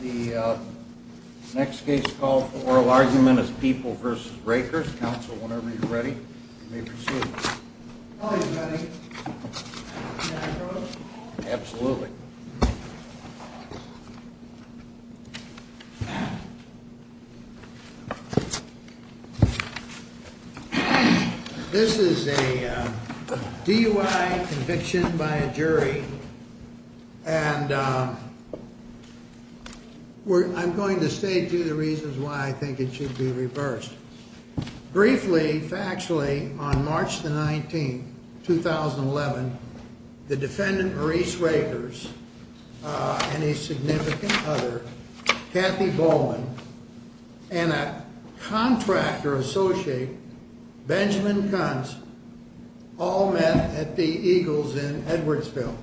The next case call for oral argument is People v. Rakers. Counsel, whenever you're ready, you may proceed. All right, buddy. Can I go? Absolutely. This is a DUI conviction by a jury, and I'm going to state to you the reasons why I think it should be reversed. Briefly, factually, on March 19, 2011, the defendant, Maurice Rakers, and his significant other, Kathy Bowman, and a contractor associate, Benjamin Kunz, all met at the Eagles in Edwardsville.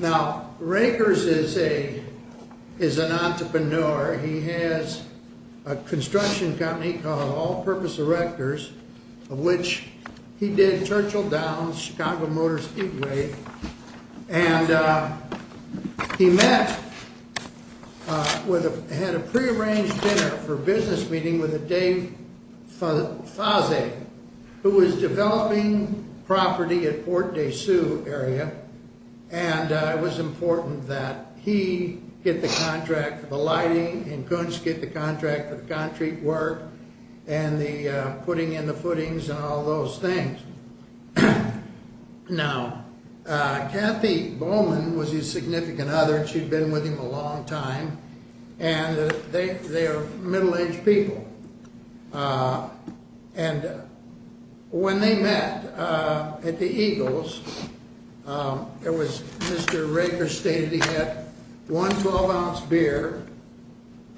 Now, Rakers is an entrepreneur. He has a construction company called All-Purpose Erectors, of which he did Churchill Downs, Chicago Motor Speedway. And he met, had a pre-arranged dinner for a business meeting with a Dave Faze, who was developing property at Port de Sue area. And it was important that he get the contract for the lighting, and Kunz get the contract for the concrete work, and the putting in the footings and all those things. Now, Kathy Bowman was his significant other, and she'd been with him a long time, and they are middle-aged people. And when they met at the Eagles, it was, Mr. Rakers stated he had one 12-ounce beer,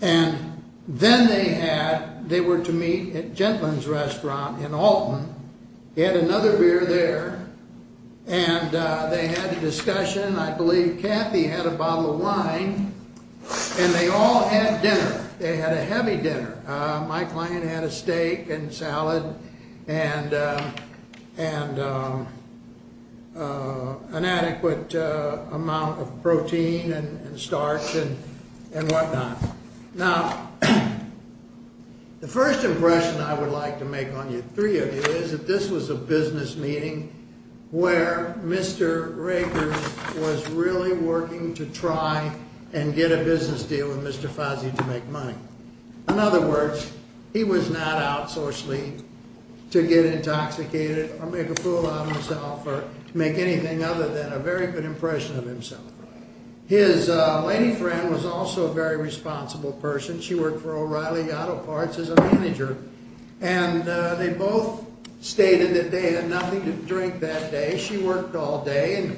and then they had, they were to meet at Gentleman's Restaurant in Alton. He had another beer there, and they had a discussion. I believe Kathy had a bottle of wine, and they all had dinner. They had a heavy dinner. My client had a steak and salad, and an adequate amount of protein and starch and whatnot. Now, the first impression I would like to make on you three of you is that this was a business meeting where Mr. Rakers was really working to try and get a business deal with Mr. Faze to make money. In other words, he was not out socially to get intoxicated, or make a fool out of himself, or make anything other than a very good impression of himself. His lady friend was also a very responsible person. She worked for O'Reilly Auto Parts as a manager. And they both stated that they had nothing to drink that day. She worked all day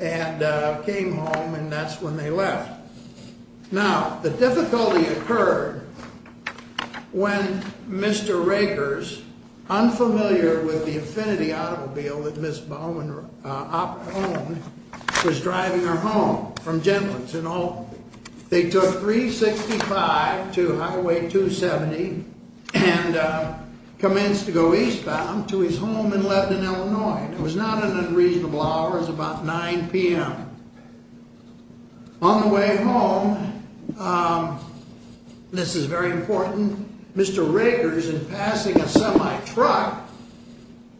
and came home, and that's when they left. Now, the difficulty occurred when Mr. Rakers, unfamiliar with the Affinity Automobile that Ms. Bowman owned, was driving her home from Gentleman's in Alton. They took 365 to Highway 270 and commenced to go eastbound to his home in Lebanon, Illinois. It was not an unreasonable hour. It was about 9 p.m. On the way home, this is very important, Mr. Rakers, in passing a semi-truck,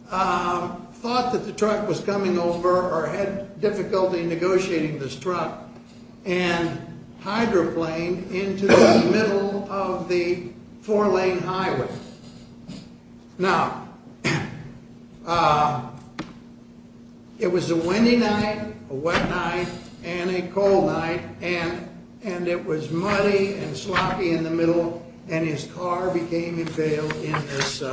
thought that the truck was coming over, or had difficulty negotiating this truck, and hydroplaned into the middle of the four-lane highway. Now, it was a windy night, a wet night, and a cold night, and it was muddy and sloppy in the middle, and his car became impaled in this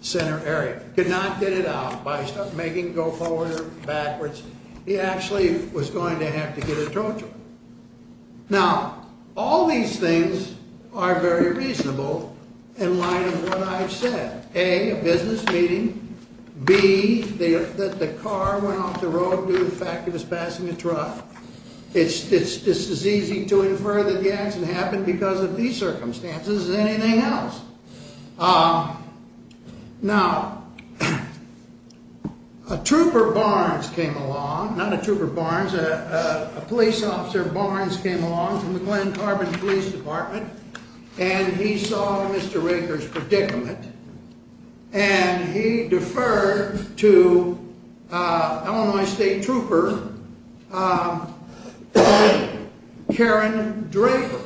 center area. Could not get it out. By making it go forward or backwards, he actually was going to have to get a tow truck. Now, all these things are very reasonable in light of what I've said. A, a business meeting. B, that the car went off the road due to the fact it was passing a truck. It's as easy to infer that the accident happened because of these circumstances as anything else. Now, a trooper Barnes came along, not a trooper Barnes, a police officer Barnes came along from the Glen Carbon Police Department, and he saw Mr. Rakers' predicament, and he deferred to Illinois State Trooper, Karen Draper.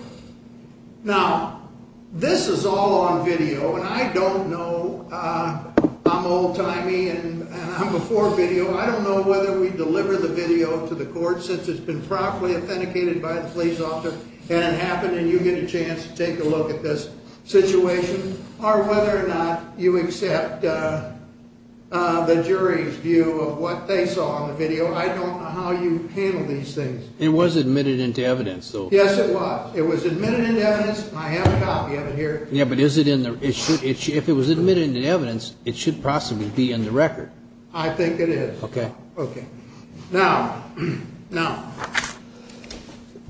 Now, this is all on video, and I don't know, I'm old-timey, and I'm before video. I don't know whether we deliver the video to the court, since it's been properly authenticated by the police officer, and it happened, and you get a chance to take a look at this situation, or whether or not you accept the jury's view of what they saw on the video. I don't know how you handle these things. It was admitted into evidence, though. Yes, it was. It was admitted into evidence, and I have a copy of it here. Yeah, but if it was admitted into evidence, it should possibly be in the record. I think it is. Okay. Okay. Now, now,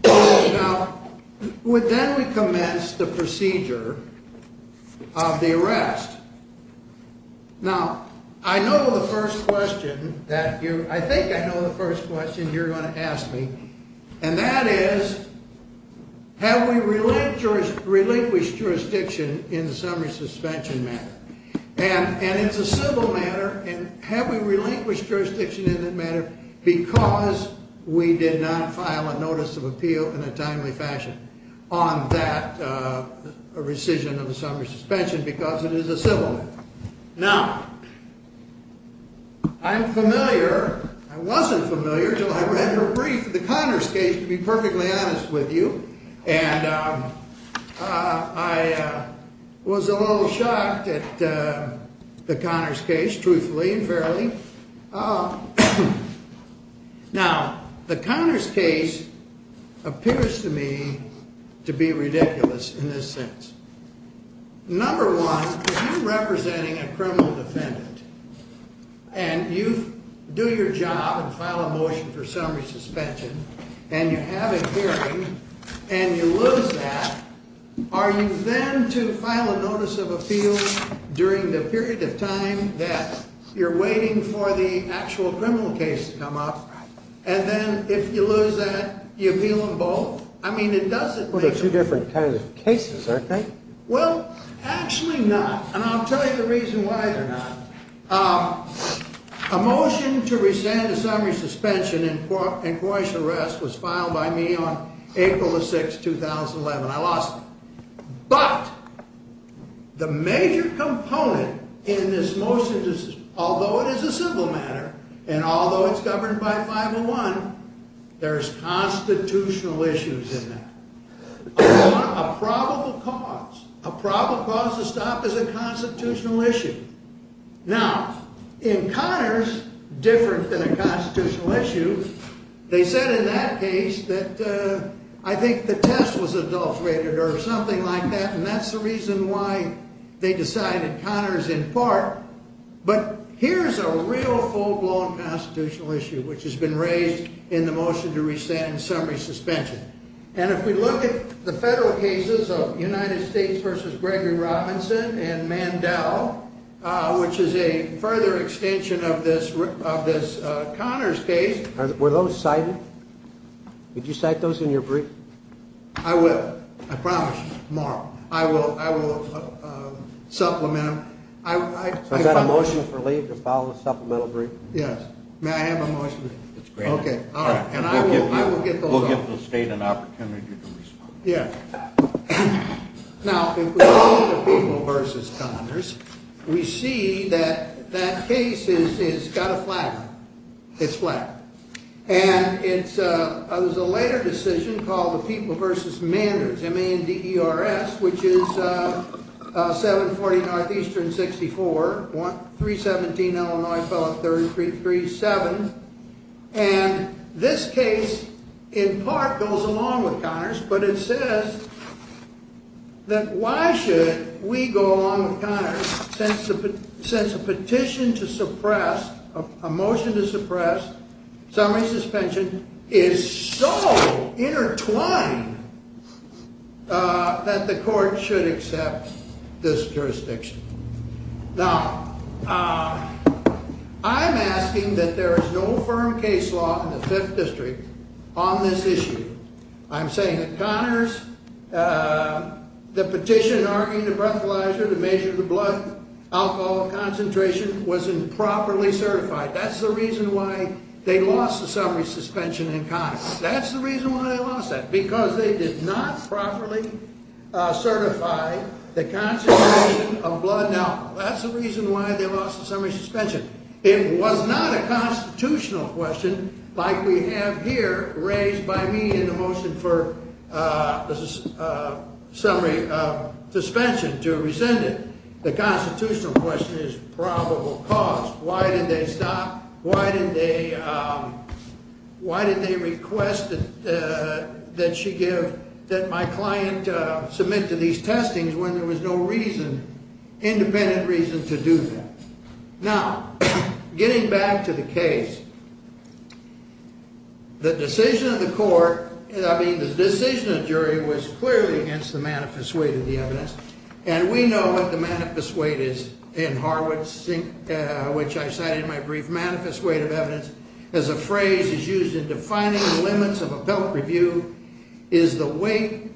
now, then we commence the procedure of the arrest. Now, I know the first question that you, I think I know the first question you're going to ask me, and that is, have we relinquished jurisdiction in the summary suspension matter? And it's a civil matter, and have we relinquished jurisdiction in that matter because we did not file a notice of appeal in a timely fashion on that rescission of the summary suspension because it is a civil matter? Now, I'm familiar, I wasn't familiar until I read your brief, the Connors case, to be perfectly honest with you, and I was a little shocked at the Connors case, truthfully and fairly. Now, the Connors case appears to me to be ridiculous in this sense. Number one, if you're representing a criminal defendant, and you do your job and file a motion for summary suspension, and you have a hearing, and you lose that, are you then to file a notice of appeal during the period of time that you're waiting for the actual criminal case to come up, and then if you lose that, you appeal them both? Well, they're two different kinds of cases, aren't they? Well, actually not, and I'll tell you the reason why they're not. A motion to rescind the summary suspension in Coitus arrest was filed by me on April the 6th, 2011. I lost it. But the major component in this motion, although it is a civil matter, and although it's governed by 501, there's constitutional issues in that. A probable cause, a probable cause to stop is a constitutional issue. Now, in Connors, different than a constitutional issue, they said in that case that I think the test was adulterated or something like that, and that's the reason why they decided Connors in part. But here's a real full-blown constitutional issue, which has been raised in the motion to rescind summary suspension. And if we look at the federal cases of United States v. Gregory Robinson and Mandel, which is a further extension of this Connors case. Were those cited? Did you cite those in your brief? I will. I promise you. Tomorrow. I will supplement them. So is that a motion for leave to file a supplemental brief? Yes. May I have a motion? It's granted. Okay. All right. And I will get those up. We'll give the state an opportunity to respond. Yeah. Now, if we look at People v. Connors, we see that that case has got a flag on it. It's flagged. And it was a later decision called the People v. Manders, M-A-N-D-E-R-S, which is 740 Northeastern 64, 317 Illinois Fellow 3337. And this case in part goes along with Connors, but it says that why should we go along with Connors since a petition to suppress, a motion to suppress summary suspension is so intertwined that the court should accept this jurisdiction. Now, I'm asking that there is no firm case law in the 5th District on this issue. I'm saying that Connors, the petition arguing the breathalyzer to measure the blood alcohol concentration was improperly certified. That's the reason why they lost the summary suspension in Connors. That's the reason why they lost that because they did not properly certify the concentration of blood. Now, that's the reason why they lost the summary suspension. It was not a constitutional question like we have here raised by me in the motion for summary suspension to rescind it. The constitutional question is probable cause. Why did they stop? Why did they request that she give that my client submit to these testings when there was no reason, independent reason to do that? Now, getting back to the case. The decision of the court, I mean the decision of the jury was clearly against the manifest weight of the evidence. And we know what the manifest weight is in Harwood, which I cited in my brief. Manifest weight of evidence as a phrase is used in defining the limits of a pelt review is the weight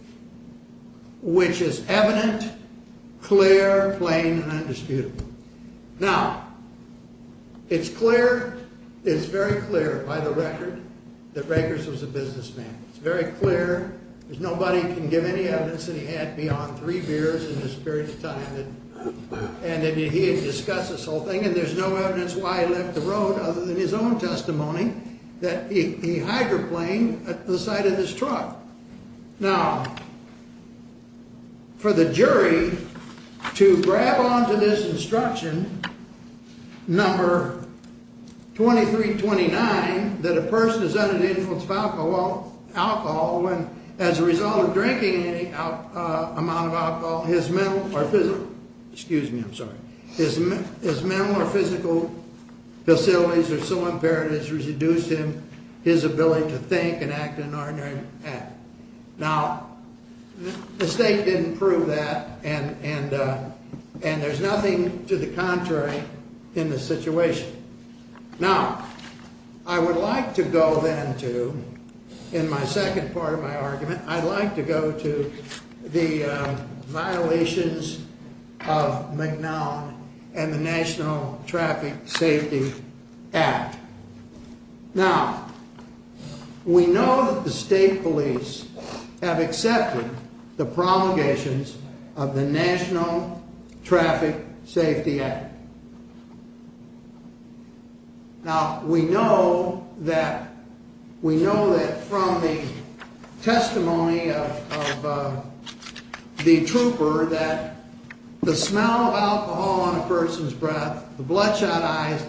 which is evident, clear, plain, and undisputable. Now, it's clear, it's very clear by the record that Rakers was a businessman. It's very clear. There's nobody can give any evidence that he had beyond three beers in the spirit of time and that he had discussed this whole thing. And there's no evidence why he left the road other than his own testimony that he hydroplane at the side of this truck. Now, for the jury to grab onto this instruction, number 2329, that a person is under the influence of alcohol when as a result of drinking any amount of alcohol, his mental or physical, excuse me, I'm sorry, his mental or physical facilities are so impaired it has reduced him, his ability to think and act in an ordinary manner. Now, the state didn't prove that and there's nothing to the contrary in this situation. Now, I would like to go then to, in my second part of my argument, I'd like to go to the violations of McNown and the National Traffic Safety Act. Now, we know that the state police have accepted the promulgations of the National Traffic Safety Act. Now, we know that from the testimony of the trooper that the smell of alcohol on a person's breath, the bloodshot eyes,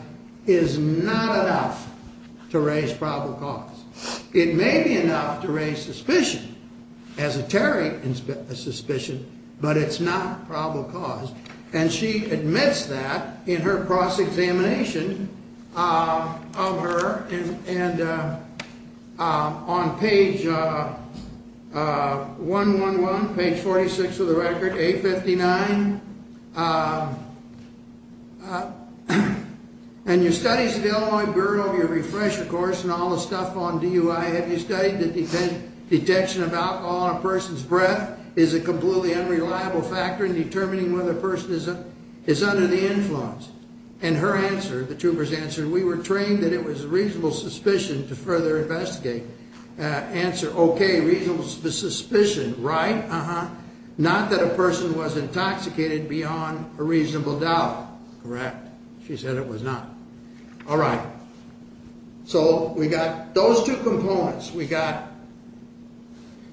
is not enough to raise probable cause. It may be enough to raise suspicion, esoteric suspicion, but it's not probable cause. And she admits that in her cross-examination of her. And on page 111, page 46 of the record, A59, and your studies at the Illinois Bureau of your refresher course and all the stuff on DUI, have you studied that detection of alcohol on a person's breath is a completely unreliable factor in determining whether a person is under the influence? And her answer, the trooper's answer, we were trained that it was reasonable suspicion to further investigate. Answer, okay, reasonable suspicion, right? Uh-huh. Not that a person was intoxicated beyond a reasonable doubt. Correct. She said it was not. All right. So we got those two components. We got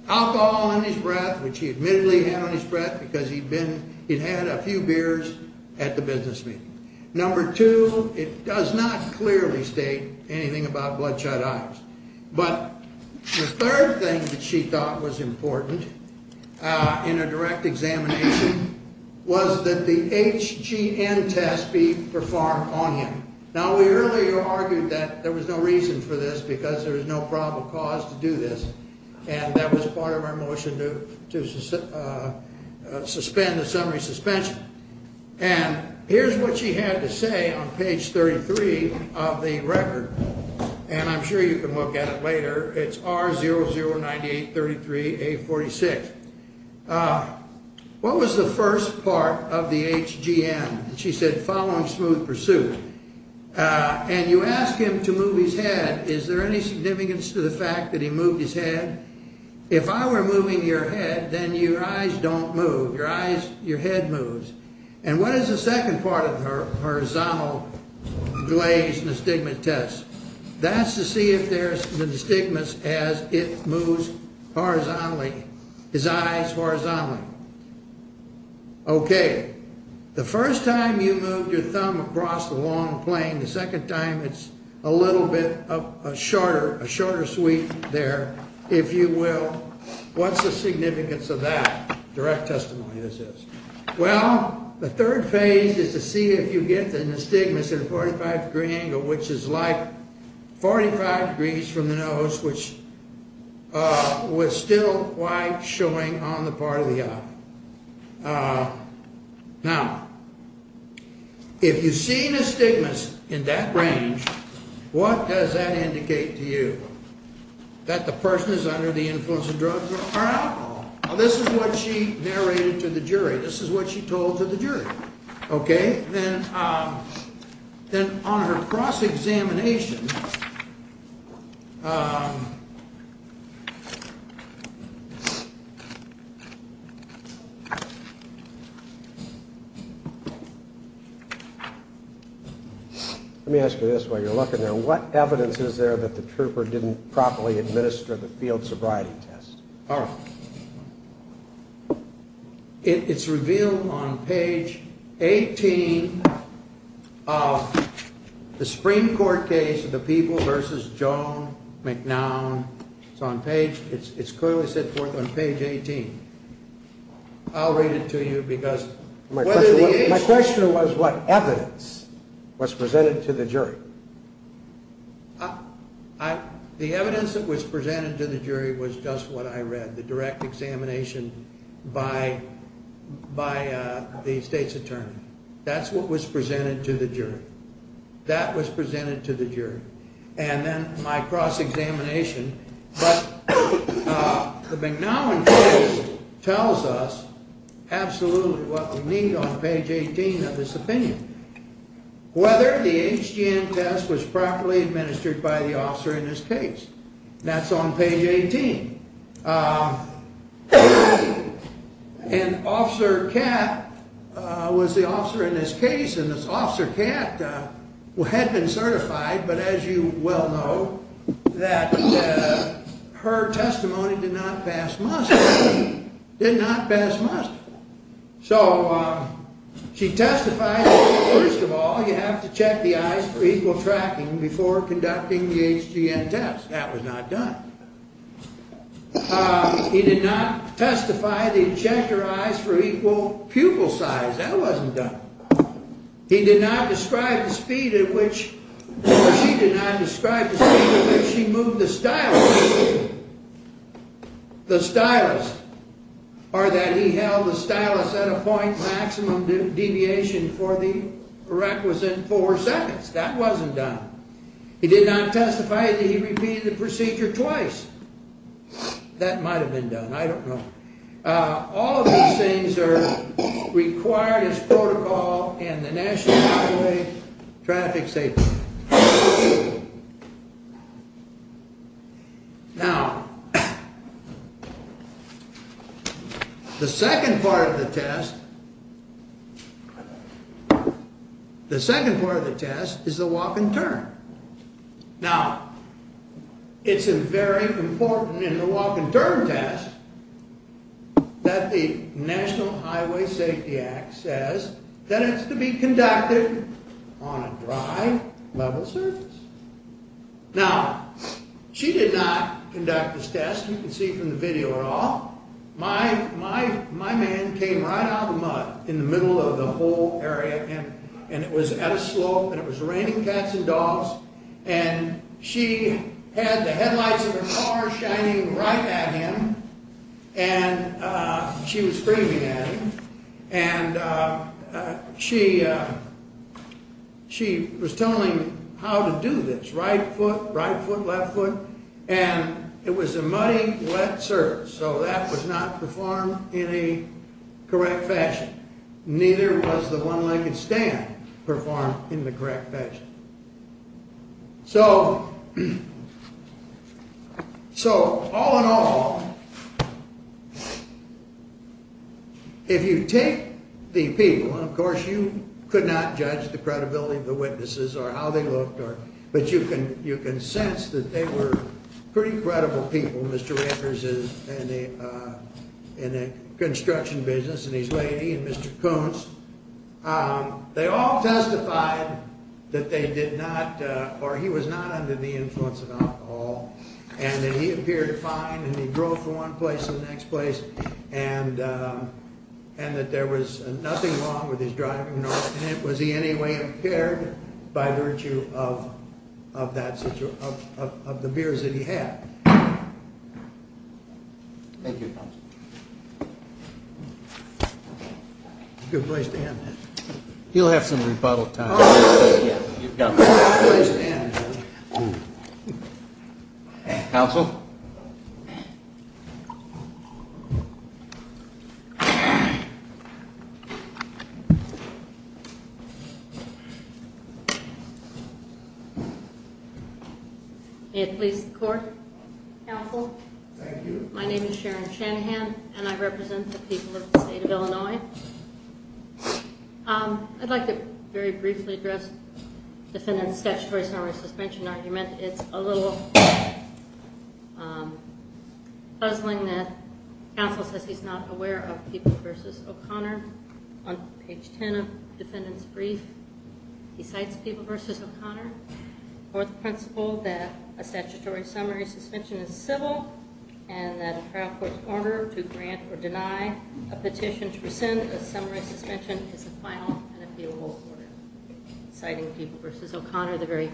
alcohol on his breath, which he admittedly had on his breath because he'd been, he'd had a few beers at the business meeting. Number two, it does not clearly state anything about bloodshot eyes. But the third thing that she thought was important in a direct examination was that the HGN test be performed on him. Now, we earlier argued that there was no reason for this because there was no probable cause to do this. And that was part of our motion to suspend the summary suspension. And here's what she had to say on page 33 of the record. And I'm sure you can look at it later. It's R009833A46. What was the first part of the HGN? She said following smooth pursuit. And you ask him to move his head. Is there any significance to the fact that he moved his head? If I were moving your head, then your eyes don't move. Your eyes, your head moves. And what is the second part of the horizontal glazed nystigma test? That's to see if there's nystigmas as it moves horizontally, his eyes horizontally. Okay. The first time you moved your thumb across the long plane, the second time it's a little bit shorter, a shorter sweep there, if you will. What's the significance of that? Direct testimony, this is. Well, the third phase is to see if you get the nystigmas at a 45 degree angle, which is like 45 degrees from the nose, which was still quite showing on the part of the eye. Now, if you see nystigmas in that range, what does that indicate to you? That the person is under the influence of drugs or alcohol. Now, this is what she narrated to the jury. This is what she told to the jury. Okay. Then on her cross-examination, let me ask you this while you're looking there. What evidence is there that the trooper didn't properly administer the field sobriety test? All right. It's revealed on page 18 of the Supreme Court case of the people versus Joan McNown. It's clearly set forth on page 18. I'll read it to you. My question was what evidence was presented to the jury. The evidence that was presented to the jury was just what I read, the direct examination by the state's attorney. That's what was presented to the jury. That was presented to the jury. And then my cross-examination. But the McNown case tells us absolutely what we need on page 18 of this opinion. Whether the HGM test was properly administered by the officer in this case. That's on page 18. And Officer Katt was the officer in this case. And Officer Katt had been certified, but as you well know, that her testimony did not pass muster. Did not pass muster. So she testified that, first of all, you have to check the eyes for equal tracking before conducting the HGM test. That was not done. He did not testify that he checked her eyes for equal pupil size. That wasn't done. He did not describe the speed at which she moved the stylus. The stylus or that he held the stylus at a point maximum deviation for the requisite four seconds. That wasn't done. He did not testify that he repeated the procedure twice. That might have been done. I don't know. All of these things are required as protocol in the National Highway Traffic Safety Code. Now, the second part of the test, the second part of the test is the walk and turn. Now, it's very important in the walk and turn test that the National Highway Safety Act says that it's to be conducted on a dry level surface. Now, she did not conduct this test. You can see from the video at all. My man came right out of the mud in the middle of the whole area, and it was at a slope, and it was raining cats and dogs. And she had the headlights of her car shining right at him, and she was screaming at him. And she was telling him how to do this, right foot, right foot, left foot. And it was a muddy, wet surface, so that was not performed in a correct fashion. Neither was the one-legged stand performed in the correct fashion. So, all in all, if you take the people, and of course you could not judge the credibility of the witnesses or how they looked, but you can sense that they were pretty credible people. Mr. Rankers is in a construction business, and his lady and Mr. Koontz, they all testified that they did not, or he was not under the influence of alcohol. And that he appeared fine, and he drove from one place to the next place, and that there was nothing wrong with his driving, nor was he in any way impaired by virtue of the beers that he had. Thank you, counsel. It's a good place to end. He'll have some rebuttal time. It's a good place to end. Counsel? Counsel? May it please the court? Counsel? Thank you. My name is Sharon Shanahan, and I represent the people of the state of Illinois. I'd like to very briefly address the defendant's statutory summary suspension argument. It's a little puzzling that counsel says he's not aware of People v. O'Connor. On page 10 of the defendant's brief, he cites People v. O'Connor for the principle that a statutory summary suspension is civil and that a trial court's order to grant or deny a petition to rescind a summary suspension is a final and appealable order. Citing People v. O'Connor, the very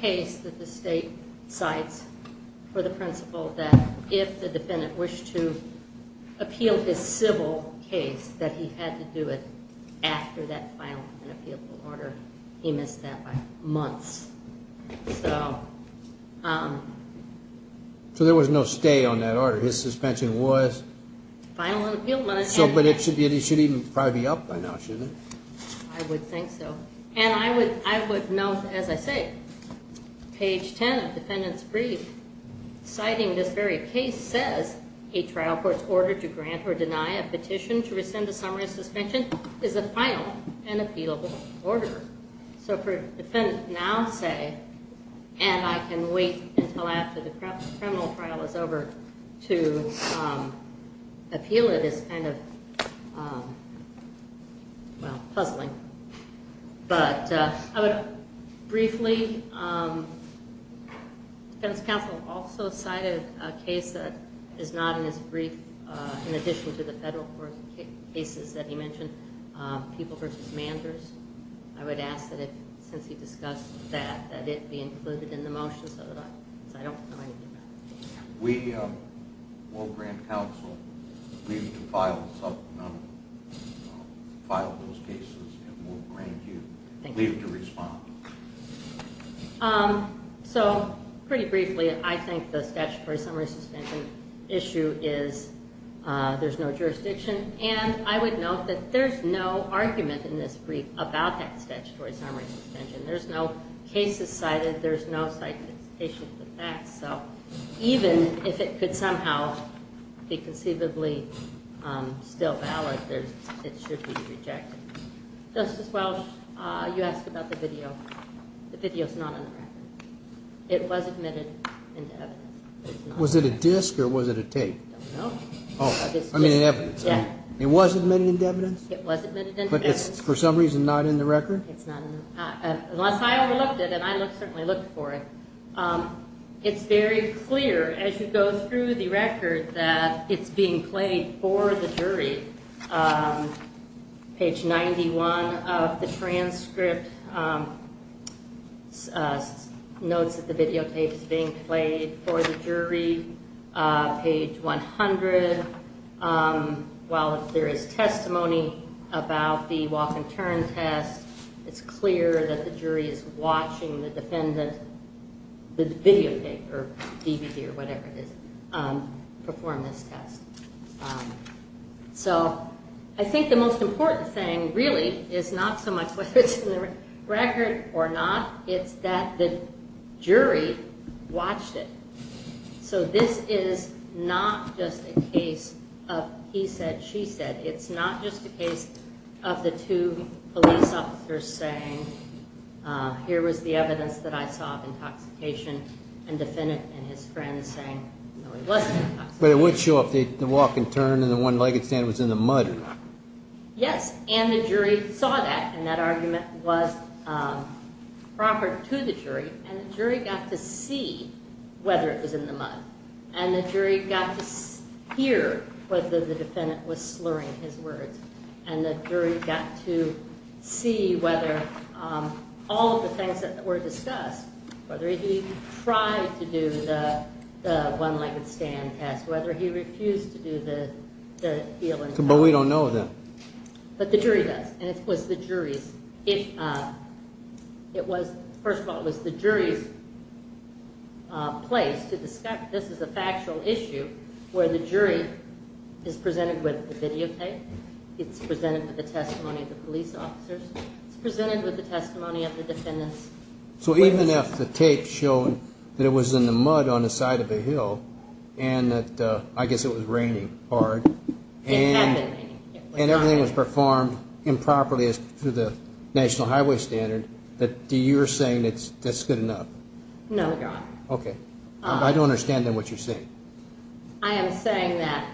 case that the state cites for the principle that if the defendant wished to appeal this civil case, that he had to do it after that final and appealable order. He missed that by months. So there was no stay on that order. His suspension was? Final and appealable. But it should even probably be up by now, shouldn't it? I would think so. And I would note, as I say, page 10 of the defendant's brief, citing this very case, says a trial court's order to grant or deny a petition to rescind a summary suspension is a final and appealable order. So for a defendant now to say, and I can wait until after the criminal trial is over to appeal it, is kind of, well, puzzling. But I would briefly, the defense counsel also cited a case that is not in his brief, in addition to the federal court cases that he mentioned, People v. Manders. I would ask that since he discussed that, that it be included in the motion so that I don't know anything about it. We will grant counsel leave to file those cases, and we'll grant you leave to respond. So pretty briefly, I think the statutory summary suspension issue is there's no jurisdiction. And I would note that there's no argument in this brief about that statutory summary suspension. There's no cases cited. There's no citation of the facts. So even if it could somehow be conceivably still valid, it should be rejected. Justice Welch, you asked about the video. The video is not on the record. It was admitted into evidence. Was it a disk or was it a tape? I don't know. It was admitted into evidence? It was admitted into evidence. But it's for some reason not in the record? Unless I overlooked it, and I certainly looked for it. It's very clear as you go through the record that it's being played for the jury. Page 91 of the transcript notes that the videotape is being played for the jury. Page 100, while there is testimony about the walk-and-turn test, it's clear that the jury is watching the defendant, the videotape or DVD or whatever it is, perform this test. So I think the most important thing really is not so much whether it's in the record or not. It's that the jury watched it. So this is not just a case of he said, she said. It's not just a case of the two police officers saying, here was the evidence that I saw of intoxication, and the defendant and his friend saying, no, he wasn't intoxicated. But it would show if the walk-and-turn and the one-legged stand was in the mud or not. Yes, and the jury saw that, and that argument was proper to the jury. And the jury got to see whether it was in the mud. And the jury got to hear whether the defendant was slurring his words. And the jury got to see whether all of the things that were discussed, whether he tried to do the one-legged stand test, whether he refused to do the heel and toe test. But we don't know that. But the jury does, and it was the jury's. It was, first of all, it was the jury's place to discuss. This is a factual issue where the jury is presented with the videotape. It's presented with the testimony of the police officers. It's presented with the testimony of the defendants. So even if the tape showed that it was in the mud on the side of the hill and that, I guess, it was raining hard. It had been raining. And everything was performed improperly as per the national highway standard, that you're saying that's good enough? No, Your Honor. Okay. I don't understand, then, what you're saying. I am saying that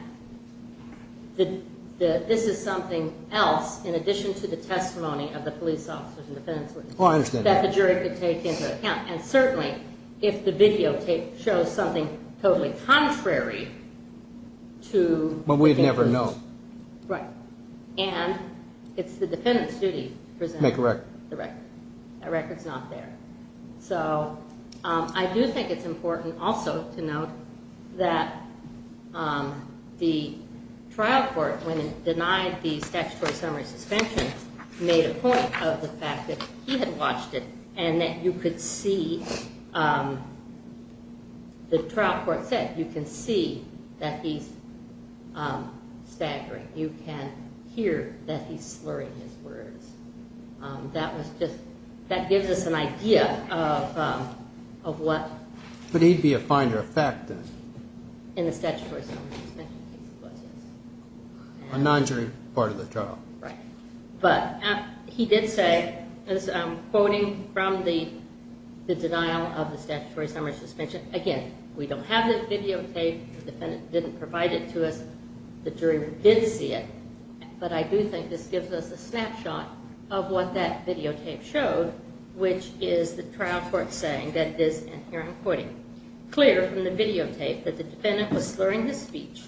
this is something else in addition to the testimony of the police officers and defendants. Oh, I understand that. That the jury could take into account. And certainly, if the videotape shows something totally contrary to the defendant's. But we'd never know. Right. And it's the defendant's duty to present. Make a record. The record. That record's not there. So I do think it's important also to note that the trial court, when it denied the statutory summary suspension, made a point of the fact that he had watched it and that you could see, the trial court said, that you can see that he's staggering. You can hear that he's slurring his words. That was just, that gives us an idea of what. But he'd be a finder of fact, then. In the statutory summary suspension case, he was, yes. A non-jury part of the trial. Right. But he did say, quoting from the denial of the statutory summary suspension, again, we don't have the videotape. The defendant didn't provide it to us. The jury did see it. But I do think this gives us a snapshot of what that videotape showed, which is the trial court saying that this, and here I'm quoting, clear from the videotape that the defendant was slurring his speech.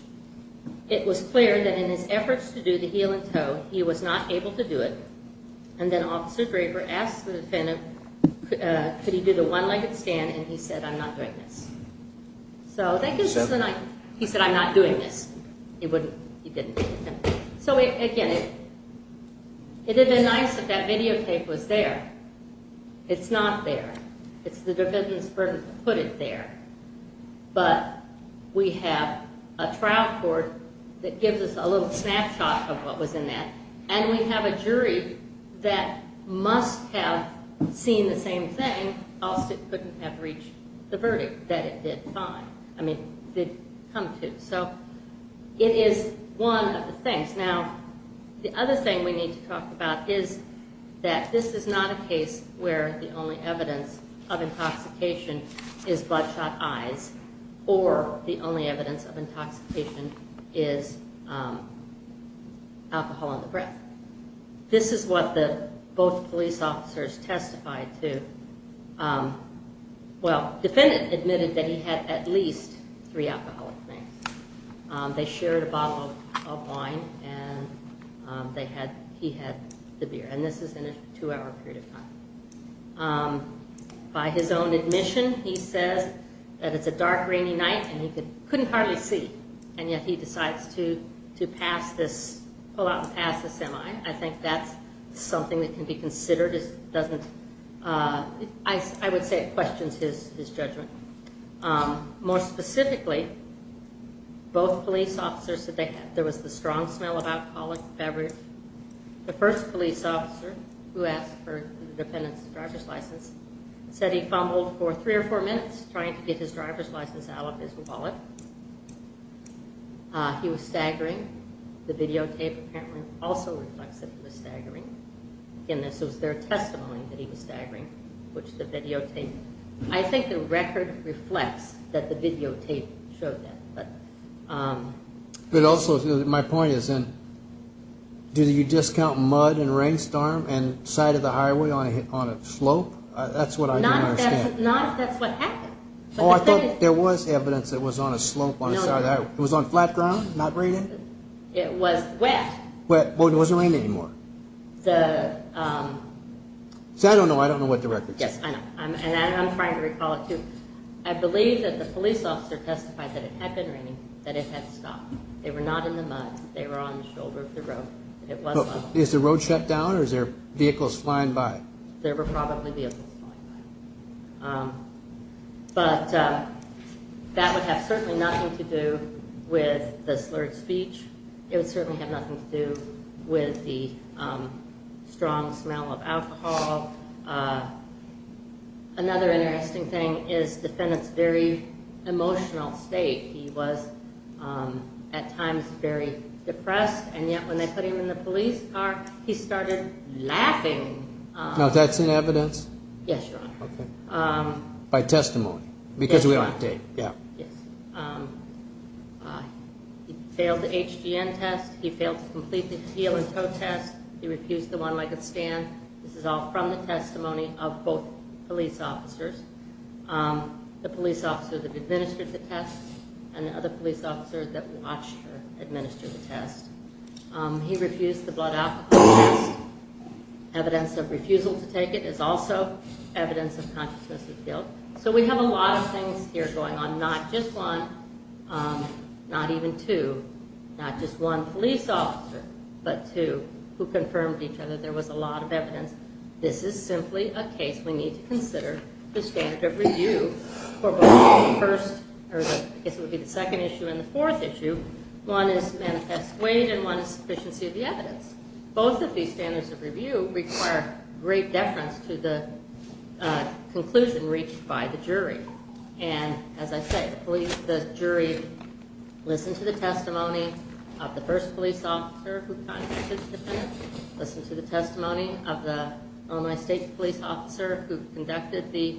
It was clear that in his efforts to do the heel and toe, he was not able to do it. And then Officer Draper asked the defendant, could he do the one-legged stand, and he said, I'm not doing this. So that gives us a nice, he said, I'm not doing this. He wouldn't, he didn't. So, again, it would have been nice if that videotape was there. It's not there. It's the defendant's burden to put it there. But we have a trial court that gives us a little snapshot of what was in that, and we have a jury that must have seen the same thing, else it couldn't have reached the verdict that it did find, I mean, did come to. So it is one of the things. Now, the other thing we need to talk about is that this is not a case where the only evidence of intoxication is bloodshot eyes or the only evidence of intoxication is alcohol on the breath. This is what both police officers testified to. Well, the defendant admitted that he had at least three alcoholic drinks. They shared a bottle of wine, and he had the beer. And this is in a two-hour period of time. By his own admission, he says that it's a dark, rainy night, and he couldn't hardly see, and yet he decides to pull out and pass the semi. I think that's something that can be considered as doesn't, I would say it questions his judgment. More specifically, both police officers said there was the strong smell of alcoholic beverage. The first police officer who asked for the defendant's driver's license said he fumbled for three or four minutes trying to get his driver's license out of his wallet. He was staggering. The videotape apparently also reflects that he was staggering. And this was their testimony that he was staggering, which the videotape, I think the record reflects that the videotape showed that. But also, my point is, do you discount mud and rainstorm and side of the highway on a slope? That's what I don't understand. That's what happened. Oh, I thought there was evidence that it was on a slope on the side of the highway. It was on flat ground, not raining? It was wet. Well, it wasn't raining anymore. The... See, I don't know. I don't know what the record says. Yes, I know. And I'm trying to recall it, too. I believe that the police officer testified that it had been raining, that it had stopped. They were not in the mud. They were on the shoulder of the road. It was mud. Is the road shut down or is there vehicles flying by? There were probably vehicles flying by. But that would have certainly nothing to do with the slurred speech. It would certainly have nothing to do with the strong smell of alcohol. Another interesting thing is the defendant's very emotional state. He was at times very depressed, and yet when they put him in the police car, he started laughing. Now, is that in evidence? Yes, Your Honor. Okay. By testimony. Yes, Your Honor. Because we have a tape. Yes. He failed the HGN test. He failed to complete the heel and toe test. He refused the one-legged stand. This is all from the testimony of both police officers, the police officer that administered the test and the other police officer that watched her administer the test. He refused the blood alcohol test. Evidence of refusal to take it is also evidence of consciousness of guilt. So we have a lot of things here going on, not just one, not even two, not just one police officer but two who confirmed to each other that there was a lot of evidence. This is simply a case we need to consider the standard of review for both the first or I guess it would be the second issue and the fourth issue. One is manifest weight and one is sufficiency of the evidence. Both of these standards of review require great deference to the conclusion reached by the jury. And as I say, the jury listened to the testimony of the first police officer who contacted the defendant, listened to the testimony of the Illinois State Police officer who conducted the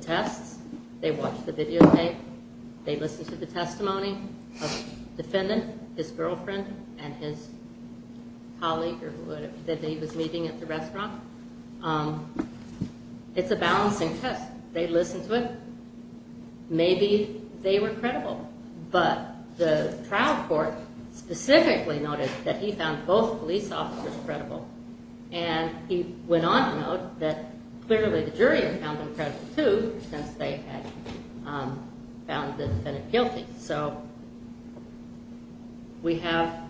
tests. They watched the video tape. They listened to the testimony of the defendant, his girlfriend, and his colleague that he was meeting at the restaurant. It's a balancing test. They listened to it. Maybe they were credible. But the trial court specifically noted that he found both police officers credible. And he went on to note that clearly the jury had found them credible too since they had found the defendant guilty. So we have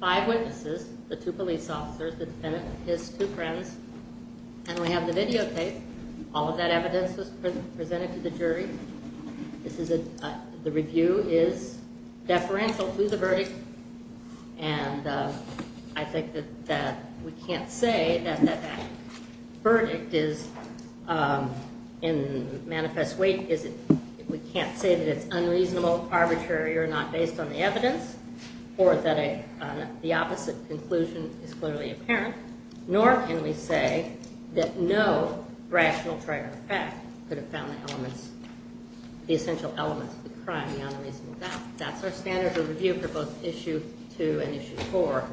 five witnesses, the two police officers, the defendant, his two friends, and we have the video tape. All of that evidence was presented to the jury. The review is deferential to the verdict, and I think that we can't say that that verdict is in manifest weight. We can't say that it's unreasonable, arbitrary, or not based on the evidence, or that the opposite conclusion is clearly apparent, nor can we say that no rational trier of fact could have found the elements, the essential elements of the crime, the unreasonable doubt. That's our standard of review for both Issue 2 and Issue 4.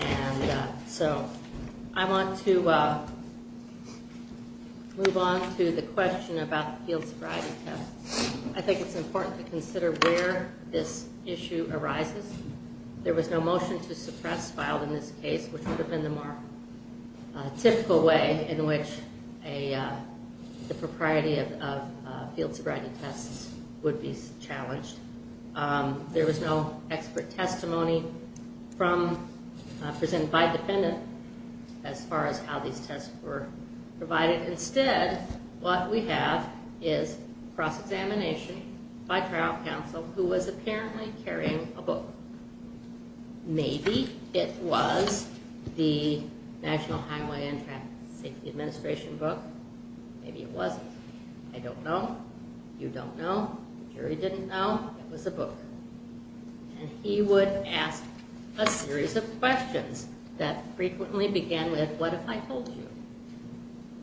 And so I want to move on to the question about the field sobriety test. I think it's important to consider where this issue arises. There was no motion to suppress filed in this case, which would have been the more typical way in which the propriety of field sobriety tests would be challenged. There was no expert testimony presented by the defendant as far as how these tests were provided. Instead, what we have is cross-examination by trial counsel, who was apparently carrying a book. Maybe it was the National Highway and Traffic Safety Administration book. Maybe it wasn't. I don't know. You don't know. Jerry didn't know. It was a book. And he would ask a series of questions that frequently began with, what if I told you?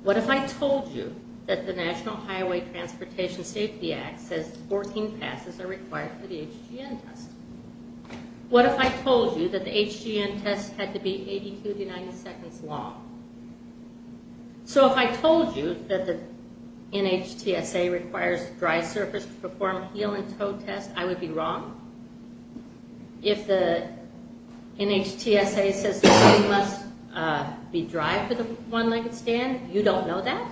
What if I told you that the National Highway Transportation Safety Act says 14 passes are required for the HGN test? What if I told you that the HGN test had to be 82 to 90 seconds long? So if I told you that the NHTSA requires dry surface to perform a heel and toe test, I would be wrong? If the NHTSA says the heel must be dry for the one-legged stand, you don't know that?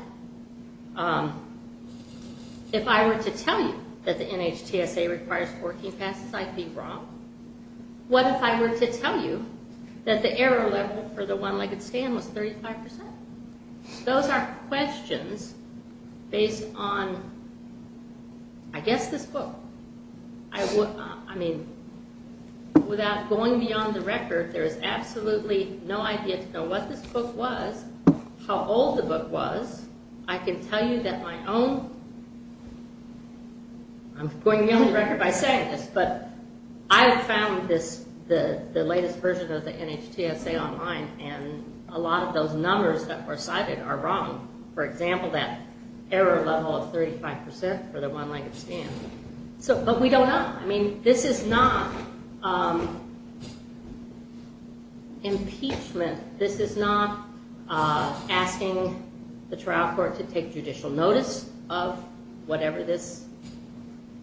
If I were to tell you that the NHTSA requires 14 passes, I'd be wrong? What if I were to tell you that the error level for the one-legged stand was 35%? Those are questions based on, I guess, this book. I mean, without going beyond the record, there is absolutely no idea to know what this book was, how old the book was. I can tell you that my own – I'm going beyond the record by saying this, but I have found the latest version of the NHTSA online, and a lot of those numbers that were cited are wrong. For example, that error level of 35% for the one-legged stand. But we don't know. I mean, this is not impeachment. This is not asking the trial court to take judicial notice of whatever this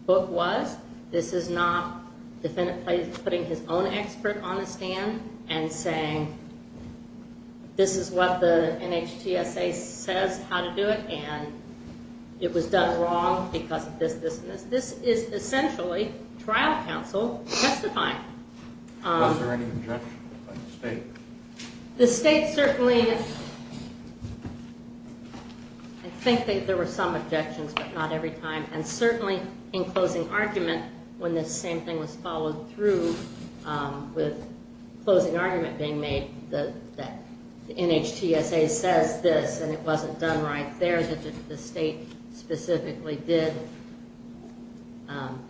book was. This is not the defendant putting his own expert on the stand and saying, this is what the NHTSA says how to do it, and it was done wrong because of this, this, and this. This is essentially trial counsel testifying. Was there any objection by the state? The state certainly – I think there were some objections, but not every time. And certainly in closing argument, when this same thing was followed through, with closing argument being made that the NHTSA says this, and it wasn't done right there, that the state specifically did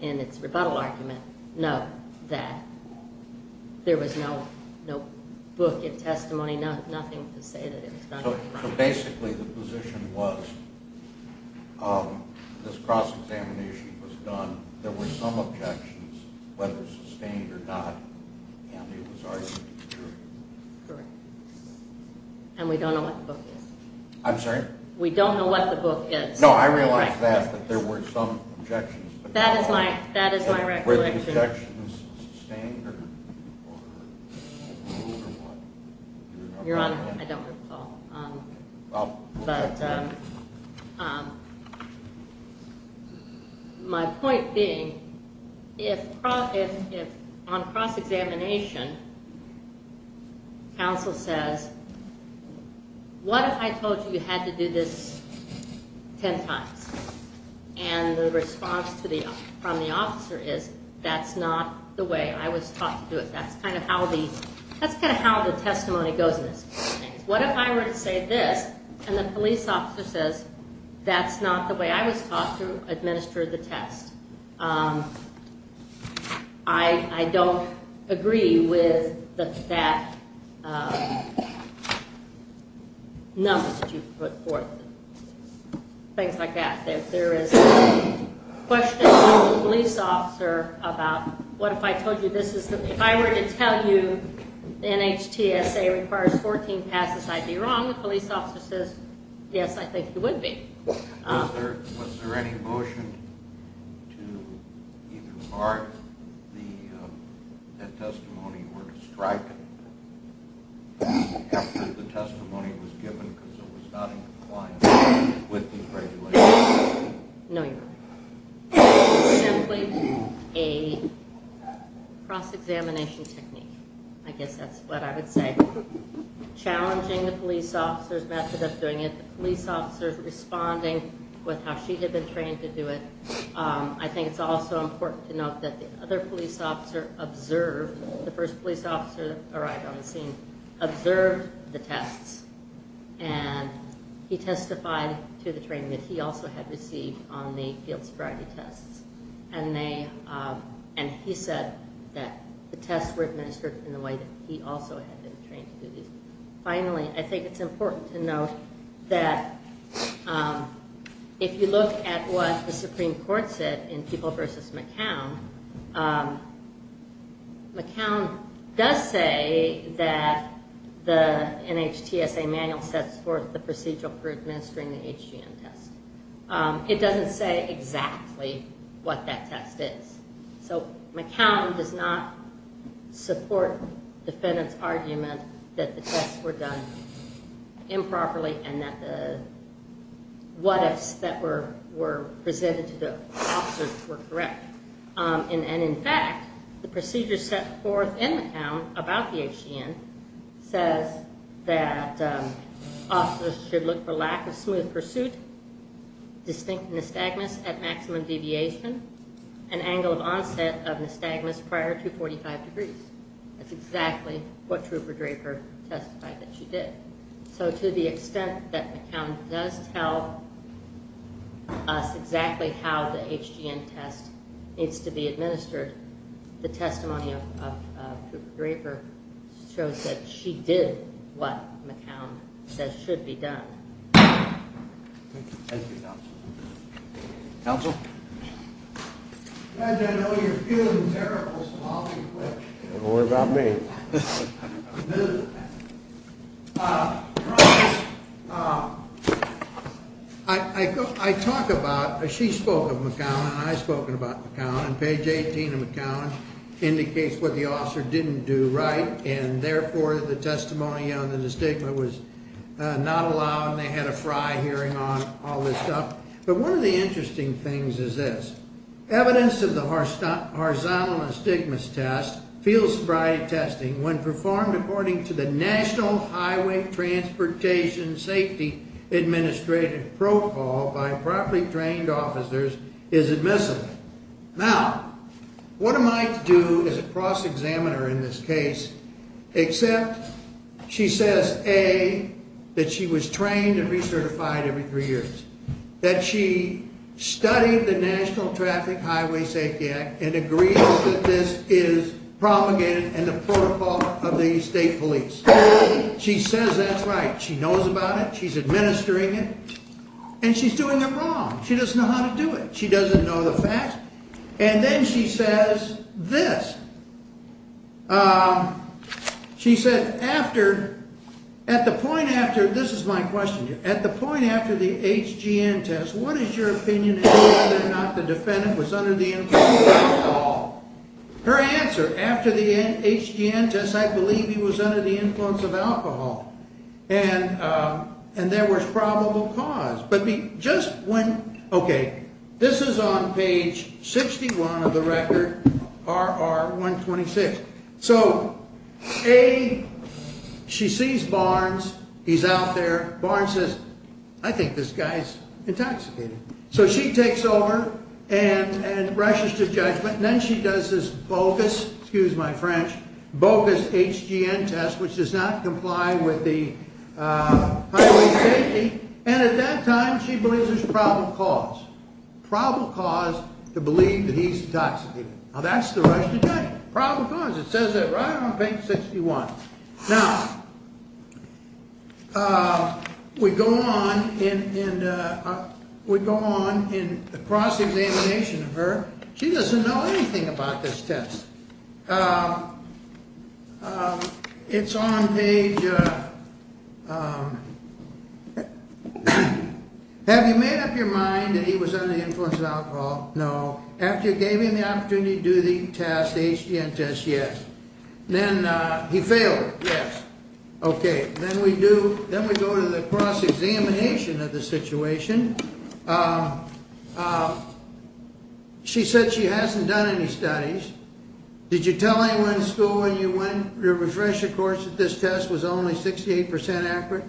in its rebuttal argument, no, that there was no book in testimony, nothing to say that it was done right. So basically the position was this cross-examination was done. There were some objections, whether sustained or not, and it was argued to be true. Correct. And we don't know what the book is. I'm sorry? We don't know what the book is. No, I realize that, that there were some objections. That is my recollection. Were the objections sustained or what? Your Honor, I don't recall. But my point being, on cross-examination, counsel says, what if I told you you had to do this ten times? And the response from the officer is, that's not the way I was taught to do it. That's kind of how the testimony goes in this case. What if I were to say this, and the police officer says, that's not the way I was taught to administer the test. I don't agree with that number that you put forth. Things like that. If there is a question from the police officer about what if I told you this is the, if I were to tell you NHTSA requires 14 passes, I'd be wrong. The police officer says, yes, I think you would be. Was there any motion to either mark that testimony or to strike it after the testimony was given because it was not in compliance with these regulations? No, Your Honor. It was simply a cross-examination technique. I guess that's what I would say. Challenging the police officer's method of doing it, the police officer's responding with how she had been trained to do it. I think it's also important to note that the other police officer observed, the first police officer that arrived on the scene, observed the tests. And he testified to the training that he also had received on the field sobriety tests. And he said that the tests were administered in the way that he also had been trained to do these. Finally, I think it's important to note that if you look at what the Supreme Court said in People v. McCown, McCown does say that the NHTSA manual sets forth the procedural for administering the HGM test. It doesn't say exactly what that test is. So McCown does not support the defendant's argument that the tests were done improperly and that the what-ifs that were presented to the officers were correct. And in fact, the procedure set forth in McCown about the HGM says that officers should look for lack of smooth pursuit, distinct nystagmus at maximum deviation, and angle of onset of nystagmus prior to 45 degrees. That's exactly what Trooper Draper testified that she did. So to the extent that McCown does tell us exactly how the HGM test needs to be administered, the testimony of Trooper Draper shows that she did what McCown says should be done. Thank you, Counsel. Counsel? Judge, I know you're feeling terrible, so I'll be quick. Don't worry about me. I talk about, she spoke of McCown, and I've spoken about McCown, and page 18 of McCown indicates what the officer didn't do right, and therefore the testimony on the nystagma was not allowed, and they had a fry hearing on all this stuff. But one of the interesting things is this. Evidence of the horizontal nystagmus test, field sobriety testing, when performed according to the National Highway Transportation Safety Administrative Protocol by properly trained officers is admissible. Now, what am I to do as a cross-examiner in this case except she says, A, that she was trained and recertified every three years, that she studied the National Traffic Highway Safety Act and agrees that this is propagated in the protocol of the state police. She says that's right. She knows about it. She's administering it. And she's doing it wrong. She doesn't know how to do it. She doesn't know the facts. And then she says this. She said after, at the point after, this is my question to you. At the point after the HGN test, what is your opinion as to whether or not the defendant was under the influence of alcohol? Her answer, after the HGN test, I believe he was under the influence of alcohol. And there was probable cause. Okay. This is on page 61 of the record, RR126. So, A, she sees Barnes. He's out there. Barnes says, I think this guy's intoxicated. So she takes over and rushes to judgment. And then she does this bogus, excuse my French, bogus HGN test, which does not comply with the Highway Safety. And at that time, she believes there's probable cause. Probable cause to believe that he's intoxicated. Now, that's the rush to judgment. Probable cause. It says that right on page 61. Now, we go on in the cross-examination of her. She doesn't know anything about this test. It's on page, have you made up your mind that he was under the influence of alcohol? No. After you gave him the opportunity to do the test, the HGN test, yes. Then he failed. Yes. Okay. Then we go to the cross-examination of the situation. She said she hasn't done any studies. Did you tell anyone in school when you went to refresh your course that this test was only 68% accurate?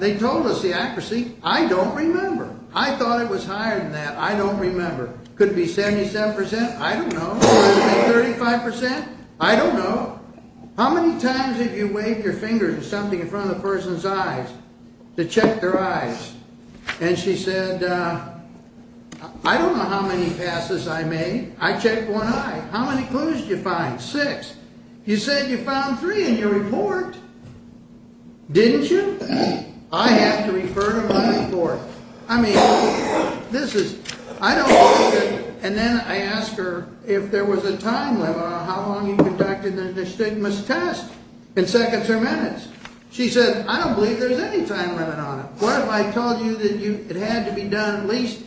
They told us the accuracy. I don't remember. I thought it was higher than that. I don't remember. Could it be 77%? I don't know. Could it be 35%? I don't know. How many times have you waved your fingers or something in front of a person's eyes to check their eyes? And she said, I don't know how many passes I made. I checked one eye. How many clues did you find? Six. You said you found three in your report. Didn't you? I have to refer to my report. I mean, this is, I don't know. And then I asked her if there was a time limit on how long you conducted the stigmas test in seconds or minutes. She said, I don't believe there's any time limit on it. What if I told you that it had to be done at least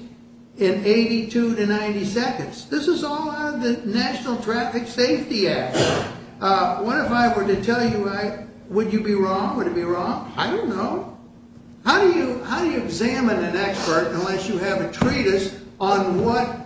in 82 to 90 seconds? This is all out of the National Traffic Safety Act. What if I were to tell you, would you be wrong? Would it be wrong? I don't know. How do you examine an expert unless you have a treatise on what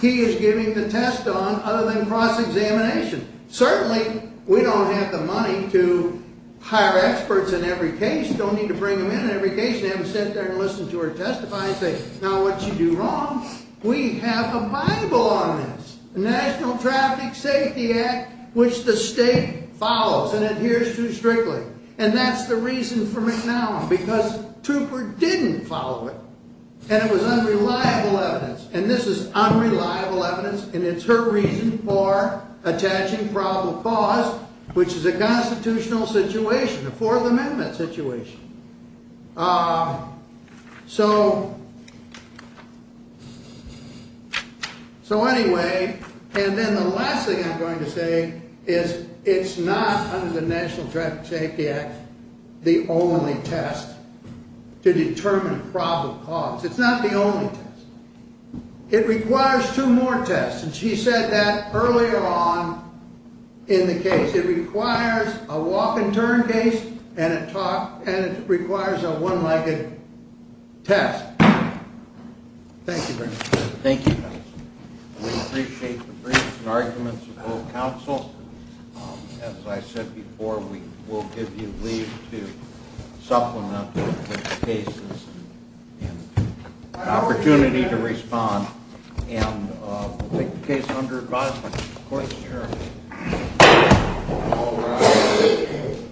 he is giving the test on other than cross-examination? Certainly, we don't have the money to hire experts in every case. You don't need to bring them in every case and have them sit there and listen to her testify and say, now, what'd you do wrong? We have a Bible on this, the National Traffic Safety Act, which the state follows and adheres to strictly. And that's the reason for McNallum, because Trooper didn't follow it. And it was unreliable evidence. And this is unreliable evidence, and it's her reason for attaching probable cause, which is a constitutional situation, a Fourth Amendment situation. So anyway, and then the last thing I'm going to say is it's not under the National Traffic Safety Act the only test to determine probable cause. It's not the only test. It requires two more tests. And she said that earlier on in the case. It requires a walk-and-turn case, and it requires a one-legged test. Thank you very much. Thank you. We appreciate the briefs and arguments of both counsel. As I said before, we will give you leave to supplement with cases and an opportunity to respond. And we'll take the case under advisement. Court is adjourned.